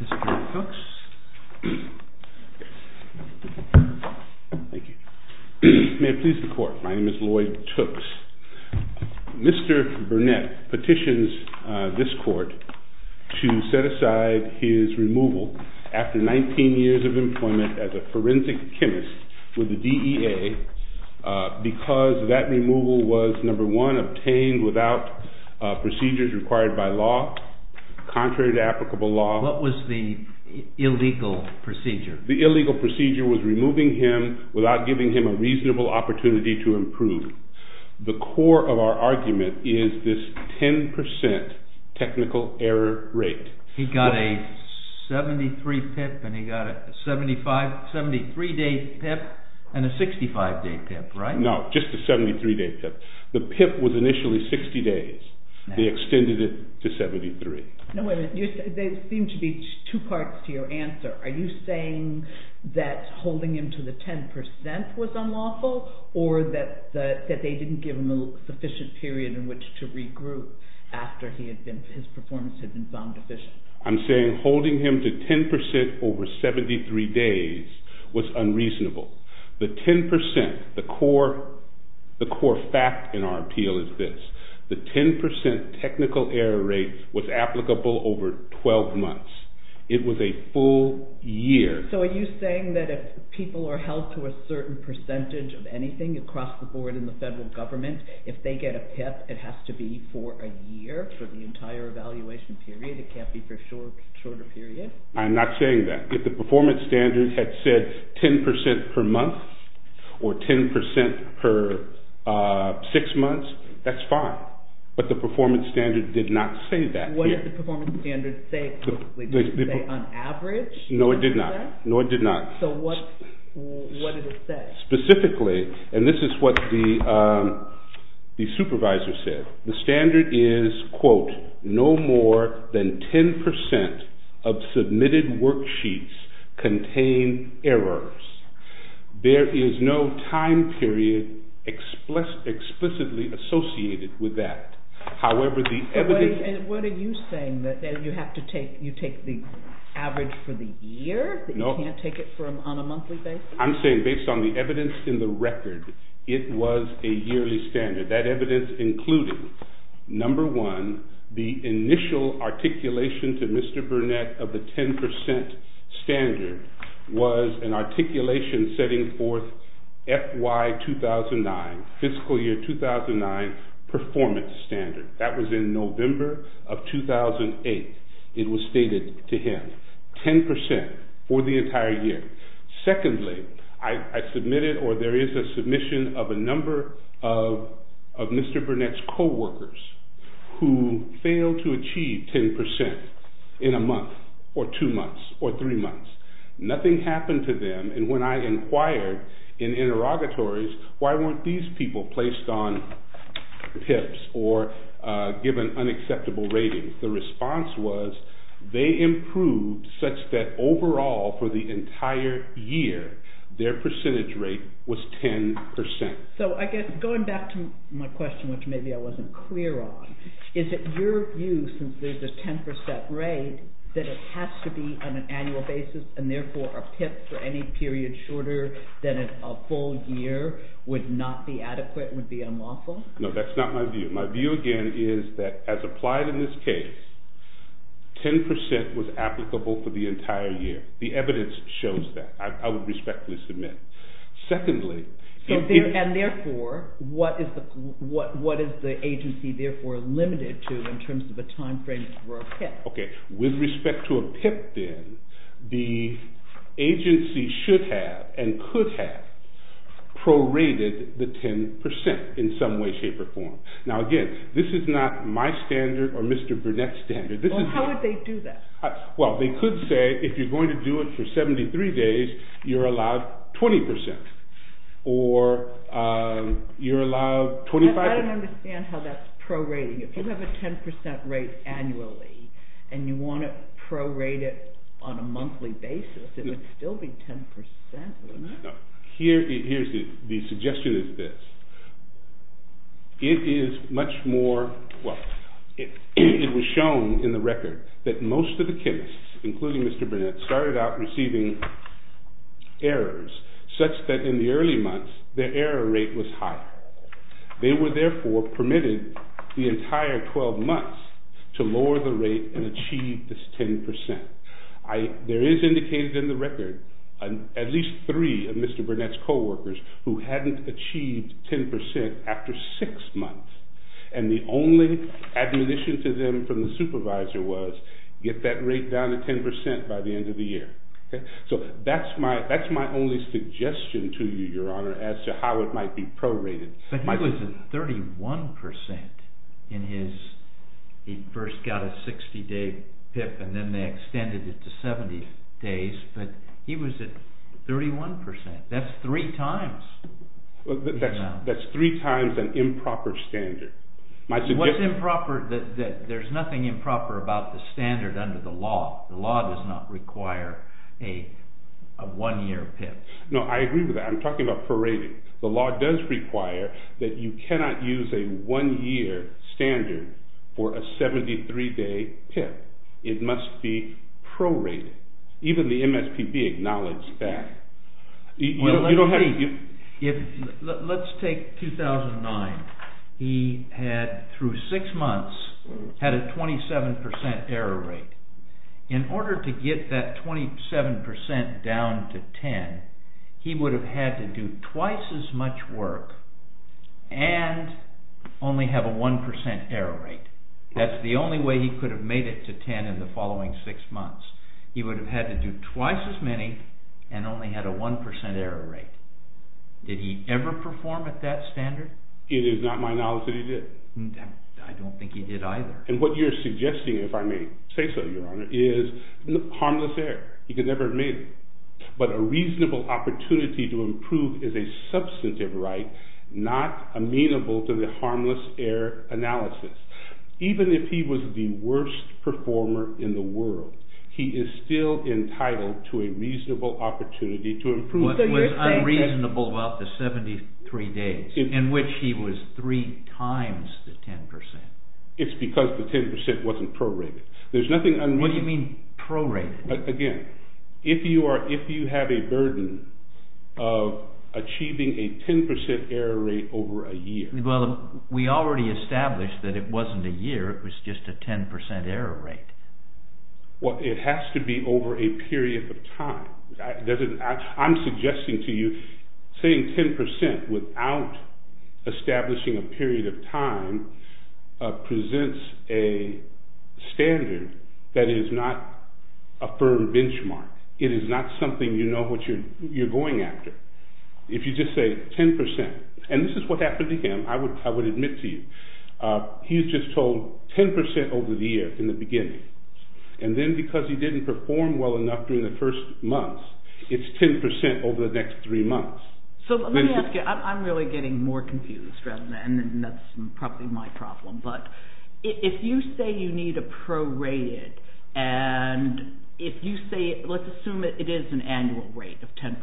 BOURNETT v. LOYD TOOKS May it please the Court, my name is Lloyd Tooks. Mr. Burnett petitions this Court to set aside his removal after 19 years of employment as a forensic chemist with the DEA because that removal was number one, obtained without procedures required by law, contrary to applicable law. What was the illegal procedure? The illegal procedure was removing him without giving him a reasonable opportunity to improve. The core of our argument is this 10% technical error rate. He got a 73 day PIP and a 65 day PIP, right? No, just a 73 day PIP. The PIP was initially 60 days. They extended it to 73. No, wait a minute. There seem to be two parts to your answer. Are you saying that holding him to the 10% was unlawful or that they didn't give him a sufficient period in which to regroup after his performance had been found deficient? I'm saying holding him to 10% over 73 days was unreasonable. The 10%, the core fact in our appeal is this, the 10% technical error rate was applicable over 12 months. It was a full year. So are you saying that if people are held to a certain percentage of anything across the board in the federal government, if they get a PIP, it has to be for a year for the entire evaluation period? It can't be for a shorter period? I'm not saying that. If the performance standard had said 10% per month or 10% per six months, that's fine. But the performance standard did not say that. What did the performance standard say on average? No, it did not. No, it did not. So what did it say? Specifically, and this is what the supervisor said, the standard is, quote, no more than 10% of submitted worksheets contain errors. There is no time period explicitly associated with that. However, the evidence... What are you saying? That you have to take, you take the average for the year? No. You can't take it on a monthly basis? I'm saying based on the evidence in the record, it was a yearly standard. That evidence including, number one, the initial articulation to Mr. Burnett of the 10% standard was an articulation setting forth FY 2009, fiscal year 2009 performance standard. That was in the standard. Secondly, I submitted, or there is a submission of a number of Mr. Burnett's co-workers who failed to achieve 10% in a month, or two months, or three months. Nothing happened to them, and when I inquired in interrogatories, why weren't these people placed on PIPs or given unacceptable ratings, the response was, they improved such that overall for the entire year, their percentage rate was 10%. So I guess, going back to my question, which maybe I wasn't clear on, is it your view, since there's a 10% rate, that it has to be on an annual basis, and therefore a PIP for any period shorter than a full year would not be adequate, would be unlawful? No, that's not my view. My view again is that, as applied in this case, 10% was applicable for the entire year. The evidence shows that. I would respectfully submit. Secondly, and therefore, what is the agency therefore limited to in terms of a time frame for a PIP? Okay, with respect to a PIP then, the agency should have, and could have, prorated the 10% in some way, shape, or form. Now again, this is not my standard, or Mr. Burnett's standard. How would they do that? Well, they could say, if you're going to do it for 73 days, you're allowed 20%, or you're allowed 25%. I don't understand how that's prorating. If you have a 10% rate Here, the suggestion is this. It is much more, well, it was shown in the record that most of the chemists, including Mr. Burnett, started out receiving errors, such that in the early months, their error rate was higher. They were therefore permitted the entire 12 months to lower the rate and achieve this 10%. There is indicated in the record, at least three of Mr. Burnett's co-workers who hadn't achieved 10% after six months, and the only admonition to them from the supervisor was, get that rate down to 10% by the end of the year. So that's my only suggestion to you, your honor, as to how it might be prorated. But he was at 31% in his, he first got a 60-day PIP and then they extended it to 70 days, but he was at 31%. That's three times. That's three times an improper standard. What's improper? There's nothing improper about the standard under the law. The law does not require a one-year PIP. No, I agree with that. I'm talking about prorating. The law does require that you cannot use a one-year standard for a 73-day PIP. It must be prorated. Even the MSPB acknowledged that. You don't have to give... Let's take 2009. He had, through six months, had a 27% error rate. In order to get that 27% down to 10%, he would have had to do twice as much work and only have a 1% error rate. That's the only way he could have made it to 10% in the following six months. He would have had to do twice as many and only had a 1% error rate. Did he ever perform at that standard? It is not my knowledge that he did. I don't think he did either. And what you're suggesting, if I may say so, your honor, is harmless error. He could never have made it. But a reasonable opportunity to improve is a substantive right not amenable to the harmless error analysis. Even if he was the worst performer in the world, he is still entitled to a reasonable opportunity to improve. What was unreasonable about the 73 days, in which he was three times the 10%? It's because the 10% wasn't prorated. There's nothing unreasonable... What do you mean prorated? Again, if you have a burden of achieving a 10% error rate over a year... Well, we already established that it wasn't a year. It was just a 10% error rate. Well, it has to be over a period of time. I'm suggesting to you, saying 10% without a firm benchmark. It is not something you know what you're going after. If you just say 10%, and this is what happened to him, I would admit to you, he's just told 10% over the year in the beginning. And then because he didn't perform well enough during the first months, it's 10% over the next three months. So let me ask you, I'm really getting more confused rather than that's probably my problem. But if you say you need a prorated, and if you say, let's assume it is an annual rate of 10%.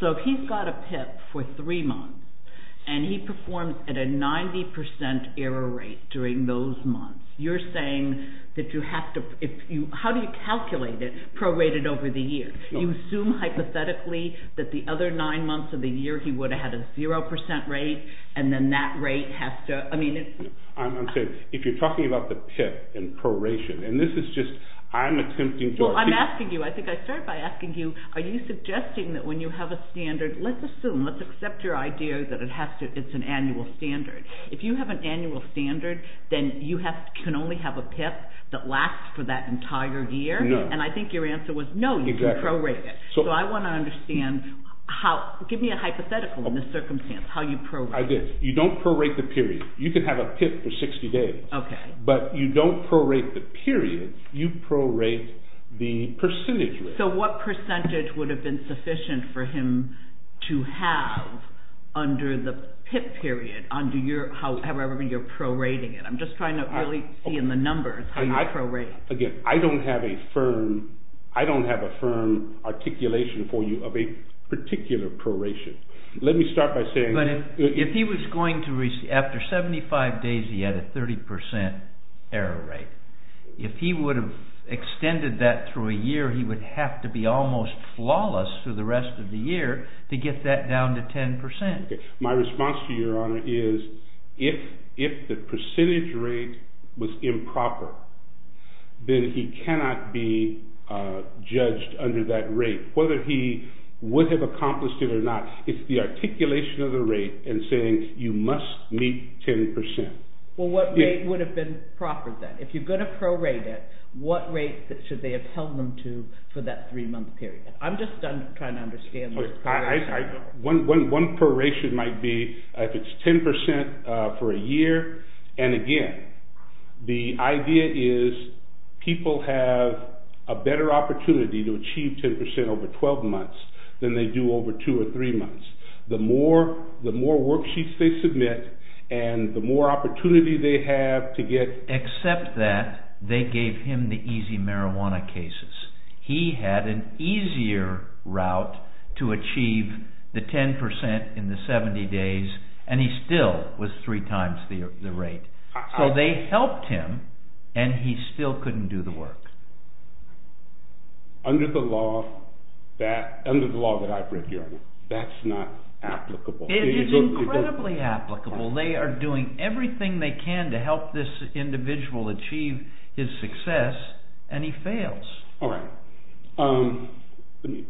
So if he's got a PIP for three months, and he performs at a 90% error rate during those months, you're saying that you have to... How do you calculate it prorated over the year? You assume hypothetically that the other nine months of the year he would have had a 0% rate, and then that has to... I'm saying, if you're talking about the PIP and proration, and this is just, I'm attempting to... Well, I'm asking you, I think I started by asking you, are you suggesting that when you have a standard, let's assume, let's accept your idea that it has to, it's an annual standard. If you have an annual standard, then you can only have a PIP that lasts for that entire year. And I think your answer was no, you can prorate it. So I want to understand how, give me a hypothetical in this period. You can have a PIP for 60 days, but you don't prorate the period, you prorate the percentage rate. So what percentage would have been sufficient for him to have under the PIP period, however you're prorating it? I'm just trying to really see in the numbers how you're prorating it. Again, I don't have a firm articulation for you of a particular proration. Let me start by saying... But if he was going to, after 75 days, he had a 30% error rate. If he would have extended that through a year, he would have to be almost flawless for the rest of the year to get that down to 10%. Okay. My response to your honor is, if the percentage rate was improper, then he cannot be judged under that rate, whether he would have accomplished it or not. It's the articulation of the rate and saying, you must meet 10%. Well, what rate would have been proper then? If you're going to prorate it, what rate should they have held them to for that three-month period? I'm just trying to understand... One proration might be if it's 10% for a year. And again, the idea is people have a better opportunity to achieve 10% over 12 months than they do over two or three months. The more worksheets they submit and the more opportunity they have to get... Except that they gave him the easy marijuana cases. He had an easier route to achieve the 10% in the 70 days and he still was three times the rate. So they helped him and he still couldn't do the work. Under the law that I've read, your honor, that's not applicable. It is incredibly applicable. They are doing everything they can to help this individual achieve his success and he fails. All right. Let me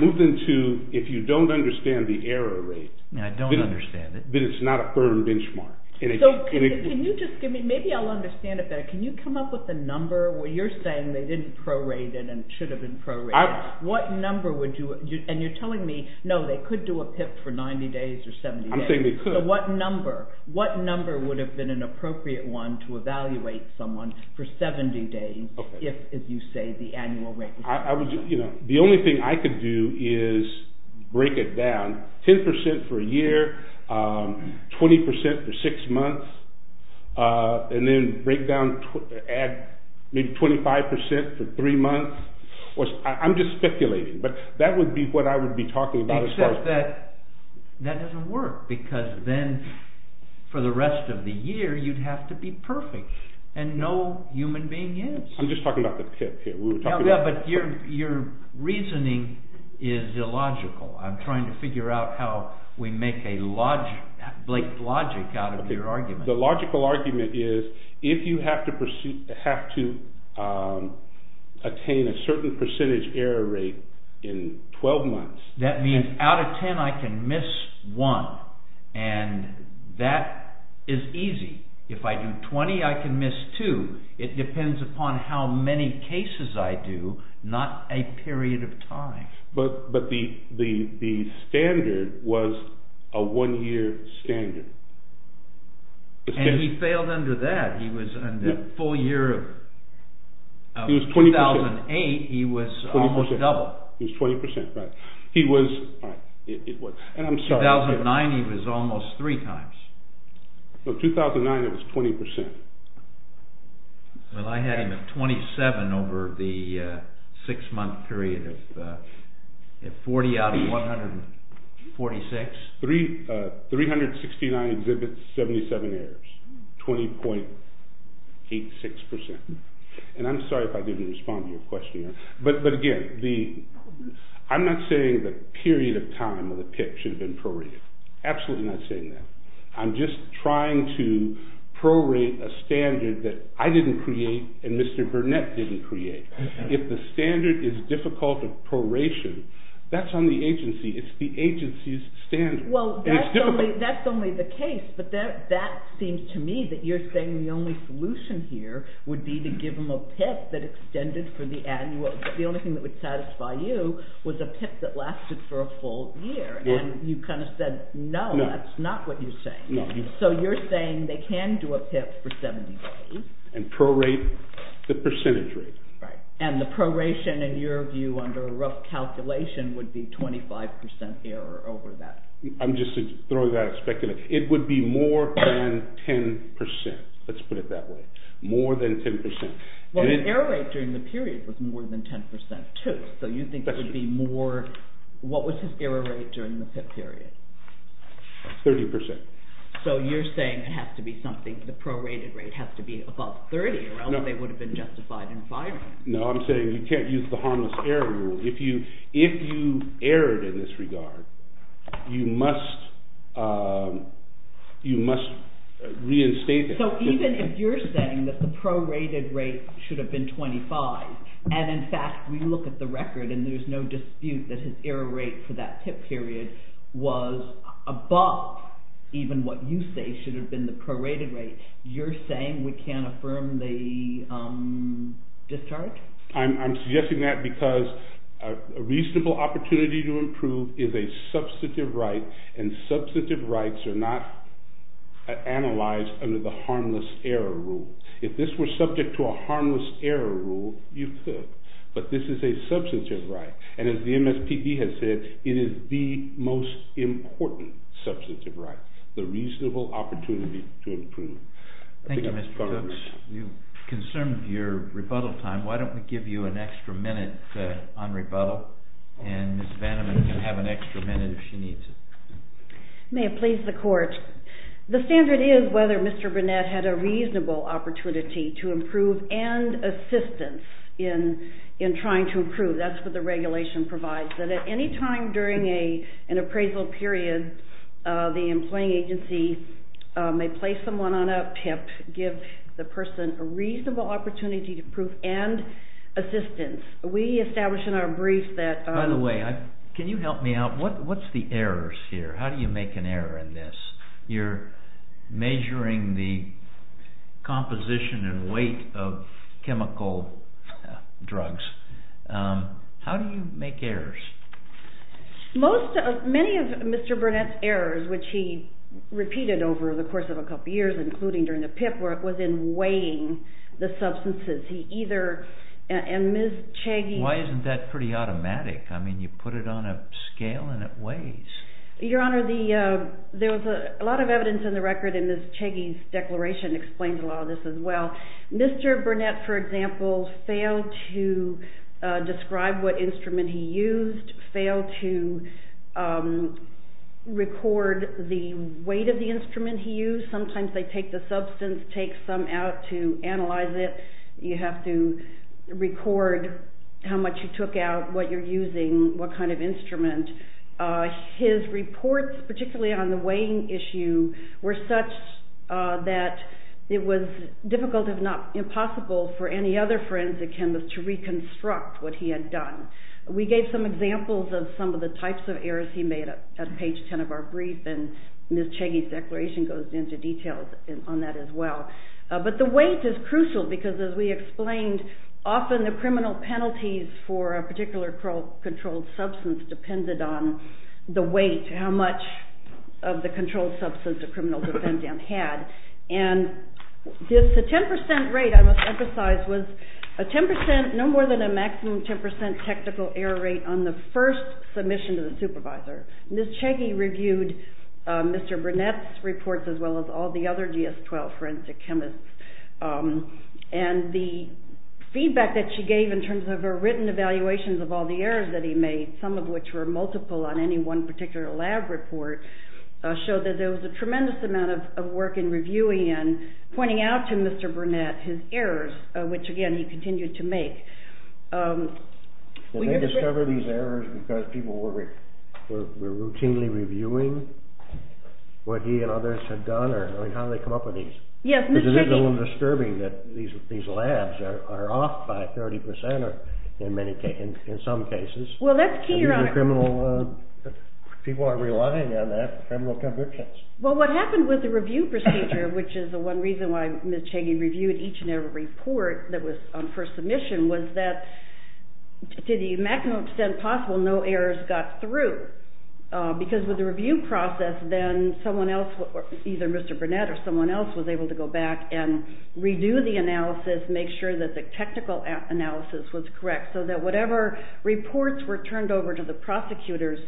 move into, if you don't understand the error rate... I don't understand it. Then it's not a firm benchmark. Can you just give me... Maybe I'll understand it better. Can you come up with a number where you're saying they didn't prorate it and it should have been prorated? What number would you... And you're telling me, no, they could do a PIP for 90 days or 70 days. I'm saying they could. So what number would have been an appropriate one to evaluate someone for 70 days if, as you say, the annual rate was... The only thing I could do is break it down. 10% for a year, 20% for six months, and then break down, add maybe 25% for three months. I'm just speculating, but that would be what I would be talking about. Except that that doesn't work because then for the rest of the year you'd have to be perfect and no human being is. I'm just talking about the PIP here. Yeah, but your reasoning is illogical. I'm trying to figure out how we make a logic, Blake, logic out of your argument. The logical argument is, if you have to attain a certain percentage error rate in 12 months... That means out of 10 I can miss two. It depends upon how many cases I do, not a period of time. But the standard was a one-year standard. And he failed under that. In the full year of 2008, he was almost double. He was 20%, he was... 2009 he was almost three times. No, 2009 it was 20%. Well, I had him at 27 over the six-month period of 40 out of 146. 369 exhibits, 77 errors, 20.86%. And I'm sorry if I didn't respond to your question. But again, I'm not saying the period of time of the PIP should have been prorated. Absolutely not saying that. I'm just trying to prorate a standard that I didn't create and Mr. Burnett didn't create. If the standard is difficult of proration, that's on the agency. It's the agency's standard. Well, that's only the case, but that seems to me that you're saying the only solution here would be to give them a PIP that extended for the annual. The only thing that would satisfy you was a PIP that lasted for a full year. And you kind of said, no, that's not what you're saying. So you're saying they can do a PIP for 70 days. And prorate the percentage rate. Right. And the proration in your view under a rough calculation would be 25% error over that. I'm just throwing that out of speculation. It would be more than 10%. Let's put it that way. More than 10%. Well, the error rate during the period was more than 10% too. So you think it would be more, what was his error rate during the PIP period? 30%. So you're saying it has to be something, the prorated rate has to be above 30 or else they would have been justified in firing. No, I'm saying you can't use the harmless error rule. If you erred in this regard, you must reinstate that. So even if you're saying that the prorated rate should have been 25, and in fact, we look at the record and there's no dispute that his error rate for that PIP period was above even what you say should have been the prorated rate, you're saying we can't affirm the discharge? I'm suggesting that because a reasonable opportunity to improve is a substantive right and substantive rights are not analyzed under the harmless error rule. If this were subject to a harmless error rule, you could, but this is a substantive right. And as the MSPB has said, it is the most important substantive right, the reasonable opportunity to improve. Thank you, Mr. Cooks. You concerned your rebuttal time. Why don't we give you an extra minute on rebuttal and Ms. Vandeman can have an extra minute if she needs it. May it please the court. The standard is whether Mr. Burnett had a reasonable opportunity to improve and assistance in trying to improve. That's what regulation provides, that at any time during an appraisal period, the employing agency may place someone on a PIP, give the person a reasonable opportunity to improve and assistance. We establish in our brief that... By the way, can you help me out? What's the errors here? How do you make an error in this? You're measuring the composition and weight of chemical drugs. How do you make errors? Most of, many of Mr. Burnett's errors, which he repeated over the course of a couple years, including during the PIP work, was in weighing the substances. He either, and Ms. Chagy... Why isn't that pretty automatic? I mean, you put it on a scale and it weighs. Your Honor, there was a lot of evidence in the record and Ms. Chagy's declaration explains a lot of this as well. Mr. Burnett, for example, failed to describe what instrument he used, failed to record the weight of the instrument he used. Sometimes they take the substance, take some out to analyze it. You have to record how much you took out, what you're using, what kind of instrument. His reports, particularly on the weighing issue, were such that it was difficult, if not impossible, for any other forensic chemist to reconstruct what he had done. We gave some examples of some of the types of errors he made at page 10 of our brief, and Ms. Chagy's declaration goes into detail on that as well. But the weight is crucial because, as we explained, often the criminal penalties for a particular controlled substance depended on the weight, how much of the controlled substance a criminal defendant had. And this 10% rate, I must emphasize, was no more than a maximum 10% technical error rate on the first submission to the supervisor. Ms. Chagy reviewed Mr. Burnett's reports as well as all the other GS-12 forensic chemists, and the feedback that she gave in terms of her written evaluations of the errors that he made, some of which were multiple on any one particular lab report, showed that there was a tremendous amount of work in reviewing and pointing out to Mr. Burnett his errors, which again he continued to make. Did they discover these errors because people were routinely reviewing what he and others had done, or how did they come up with these? Yes. Because it is a little disturbing that these labs are off by 30% in some cases. Well, that's key, your honor. People are relying on that for criminal convictions. Well, what happened with the review procedure, which is the one reason why Ms. Chagy reviewed each and every report that was on first submission, was that to the maximum extent possible, no errors got through. Because with the review process, then someone else, either Mr. Burnett or someone else, was able to go back and redo the analysis, make sure that the technical analysis was correct, so that whatever reports were turned over to the prosecutors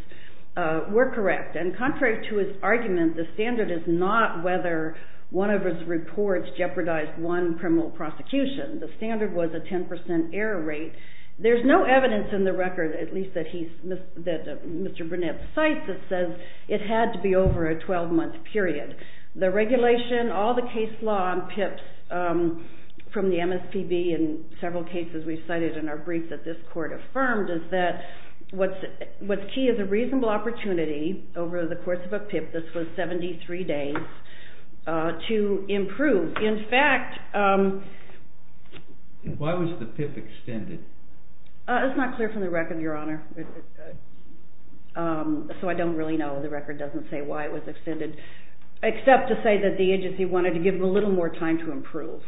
were correct. And contrary to his argument, the standard is not whether one of his reports jeopardized one criminal prosecution. The standard was a 10% error rate. There's no evidence in the record, at least that Mr. Burnett cites, that says it had to be over a 12-month period. The regulation, all the case law on PIPs from the MSPB, and several cases we've cited in our brief that this court affirmed, is that what's key is a reasonable opportunity over the course of a PIP, this was 73 days, to improve. In fact... Why was the PIP extended? It's not clear from the record, your honor. So I don't really know, the record doesn't say why it was extended, except to say that the agency wanted to give a little more time to improve.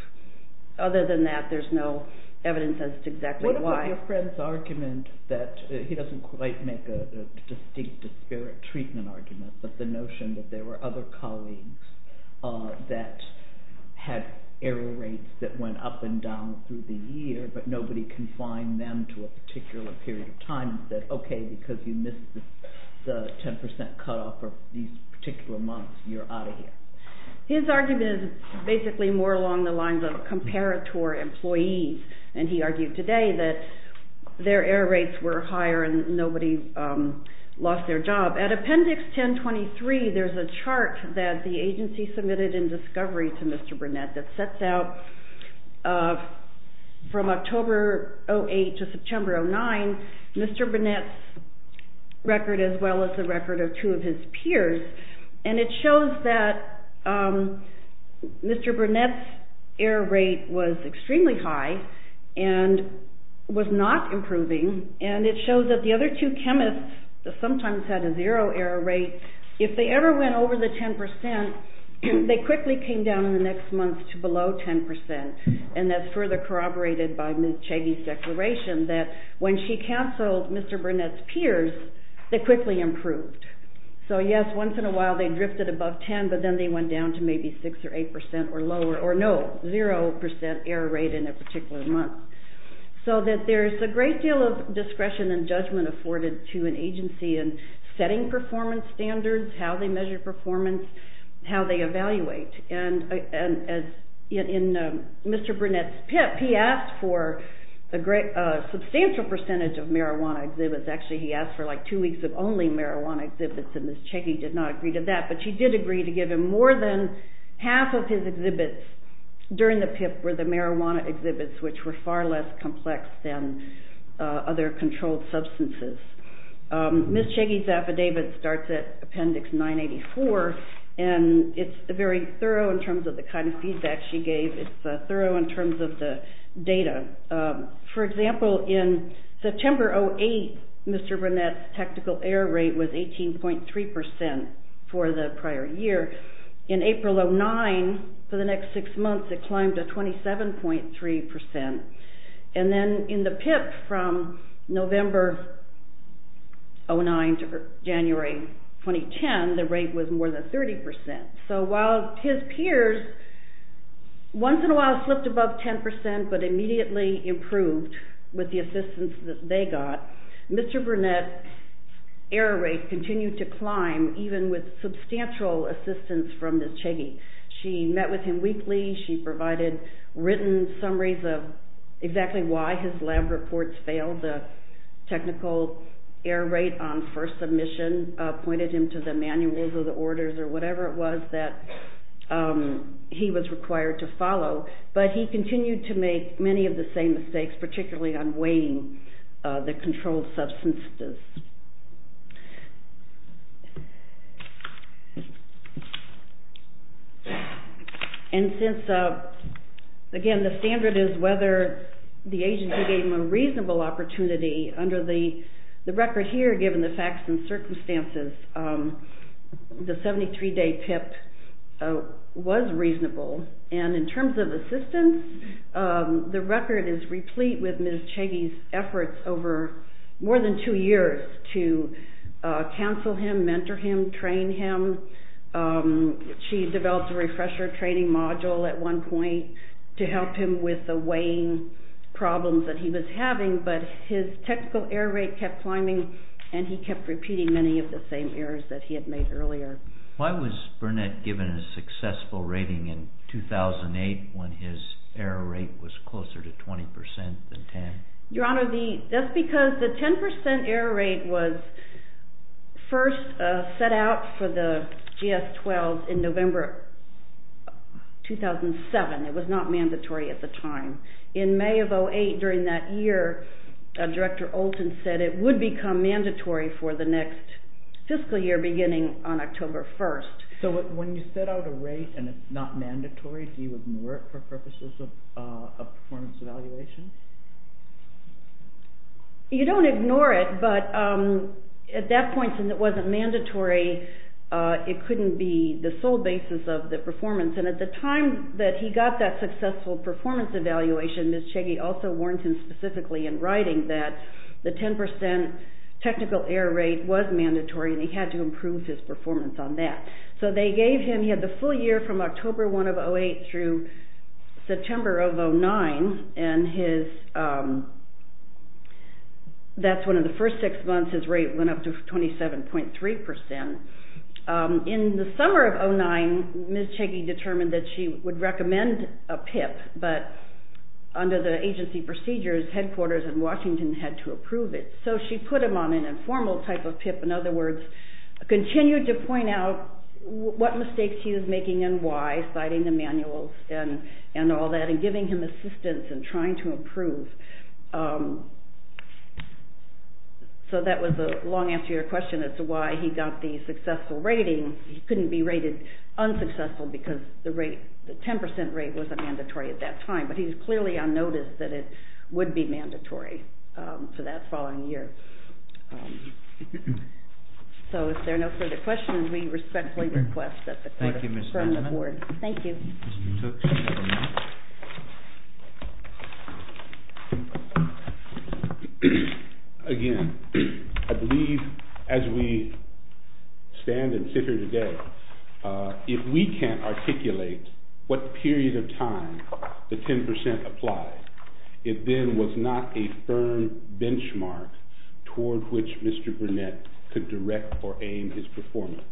Other than that, there's no evidence as to exactly why. What about your friend's argument that, he doesn't quite make a distinct disparate treatment argument, but the notion that there were other colleagues that had error rates that went up and down through the year, but nobody confined them to a particular period of time and said, okay, because you missed the 10% cutoff for these particular months, you're out of here. His argument is basically more along the lines of comparator employees, and he argued today that their error rates were higher and nobody lost their job. At appendix 1023, there's a chart that the agency submitted in discovery to Mr. Burnett that sets out from October 08 to September 09, Mr. Burnett's record as well as the record of two of his peers, and it shows that Mr. Burnett's error rate was extremely high and was not improving, and it shows that the other two chemists that sometimes had a zero error rate, if they ever went over the 10%, they quickly came down in the next month to below 10%, and that's further corroborated by Ms. Chagy's declaration that when she canceled Mr. Burnett's peers, they quickly improved. So yes, once in a while they drifted above 10%, but then they went down to maybe 6% or 8% or lower, or no, 0% error rate in a particular month. So that there's a great deal of discretion and judgment afforded to an agency in setting performance standards, how they measure performance, how they evaluate, and in Mr. Burnett's PIP, he asked for a substantial percentage of the PIP for like two weeks of only marijuana exhibits, and Ms. Chagy did not agree to that, but she did agree to give him more than half of his exhibits during the PIP were the marijuana exhibits, which were far less complex than other controlled substances. Ms. Chagy's affidavit starts at Appendix 984, and it's very thorough in terms of the kind of feedback she gave. It's thorough in terms of the data. For example, in September 08, Mr. Burnett's tactical error rate was 18.3% for the prior year. In April 09, for the next six months, it climbed to 27.3%, and then in the PIP from November 09 to January 2010, the rate was more than 30%. So while his peers, once in a while, slipped above 10%, but immediately improved with the assistance that they got, Mr. Burnett's error rate continued to climb, even with substantial assistance from Ms. Chagy. She met with him weekly, she provided written summaries of exactly why his lab reports failed. The technical error rate on first submission pointed him to the manuals or the orders or whatever it was that he was required to follow, but he continued to make many of the same mistakes, particularly on weighing the controlled substances. And since, again, the standard is whether the agency gave him a reasonable opportunity, under the record here, given the facts and circumstances, the 73-day PIP was reasonable, and in terms of assistance, the record is replete with Ms. Chagy's efforts over more than two years to counsel him, mentor him, train him. She developed a refresher training module at one point to help him with the weighing problems that he was having, but his technical error rate kept climbing and he kept repeating many of the same errors that he had made earlier. Why was Burnett given a successful rating in 2008 when his error rate was closer to 20% than 10? Your Honor, that's because the 10% error rate was first set out for the GS-12s in November 2007. It was not mandatory at the time. In May of 2008, during that year, Director Olten said it would become mandatory for the next fiscal year, beginning on October 1st. So when you set out a rate and it's not mandatory, do you ignore it for purposes of a performance evaluation? You don't ignore it, but at that point, since it wasn't mandatory, it couldn't be the sole basis of the performance, and at the time that he got that successful performance evaluation, Ms. Chagy also warned him specifically in writing that the 10% technical error rate was mandatory and he had to improve his performance on that. So they gave him, he had the full year from October 1 of 2008 through September of 2009, and that's one of the first six months his rate went up to 27.3%. In the summer of 2009, Ms. Chagy determined that she would recommend a PIP, but under the agency procedures, headquarters in Washington had to approve it. So she put him on an informal type of PIP, in other words, continued to point out what mistakes he was making and why, citing the manuals and all that, and giving him assistance in trying to improve. So that was the long answer to your question as to why he got the successful performance evaluation, and why it wasn't going to be mandatory for that following year. So if there are no further questions, we respectfully request that the court adjourn the board. Thank you. Again, I believe, as we stand and sit here today, if we can't articulate what period of time the 10% applied, it then was not a firm benchmark toward which Mr. Burnett could direct or aim his performance.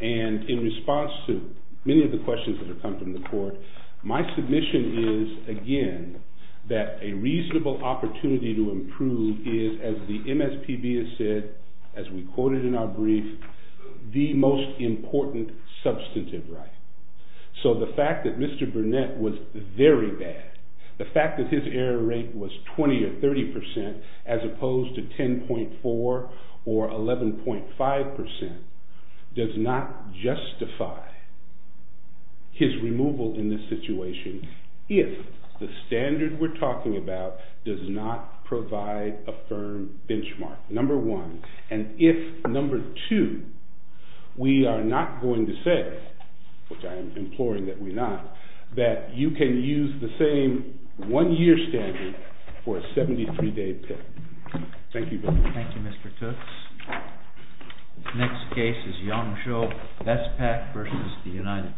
And in response to many of the questions that have come from the court, my submission is, again, that a reasonable opportunity to improve is, as the MSPB has said, as we quoted in our brief, the most important substantive right. So the fact that Mr. Burnett was very bad, the fact that his error rate was 20 or 30%, as opposed to 10.4 or 11.5%, does not justify his removal in this situation if the court decides that you can use the same one-year standard for a 73-day PIP. Thank you very much. Thank you, Mr. Tooks. The next case is Yong Xiu, BESPAC versus the United States.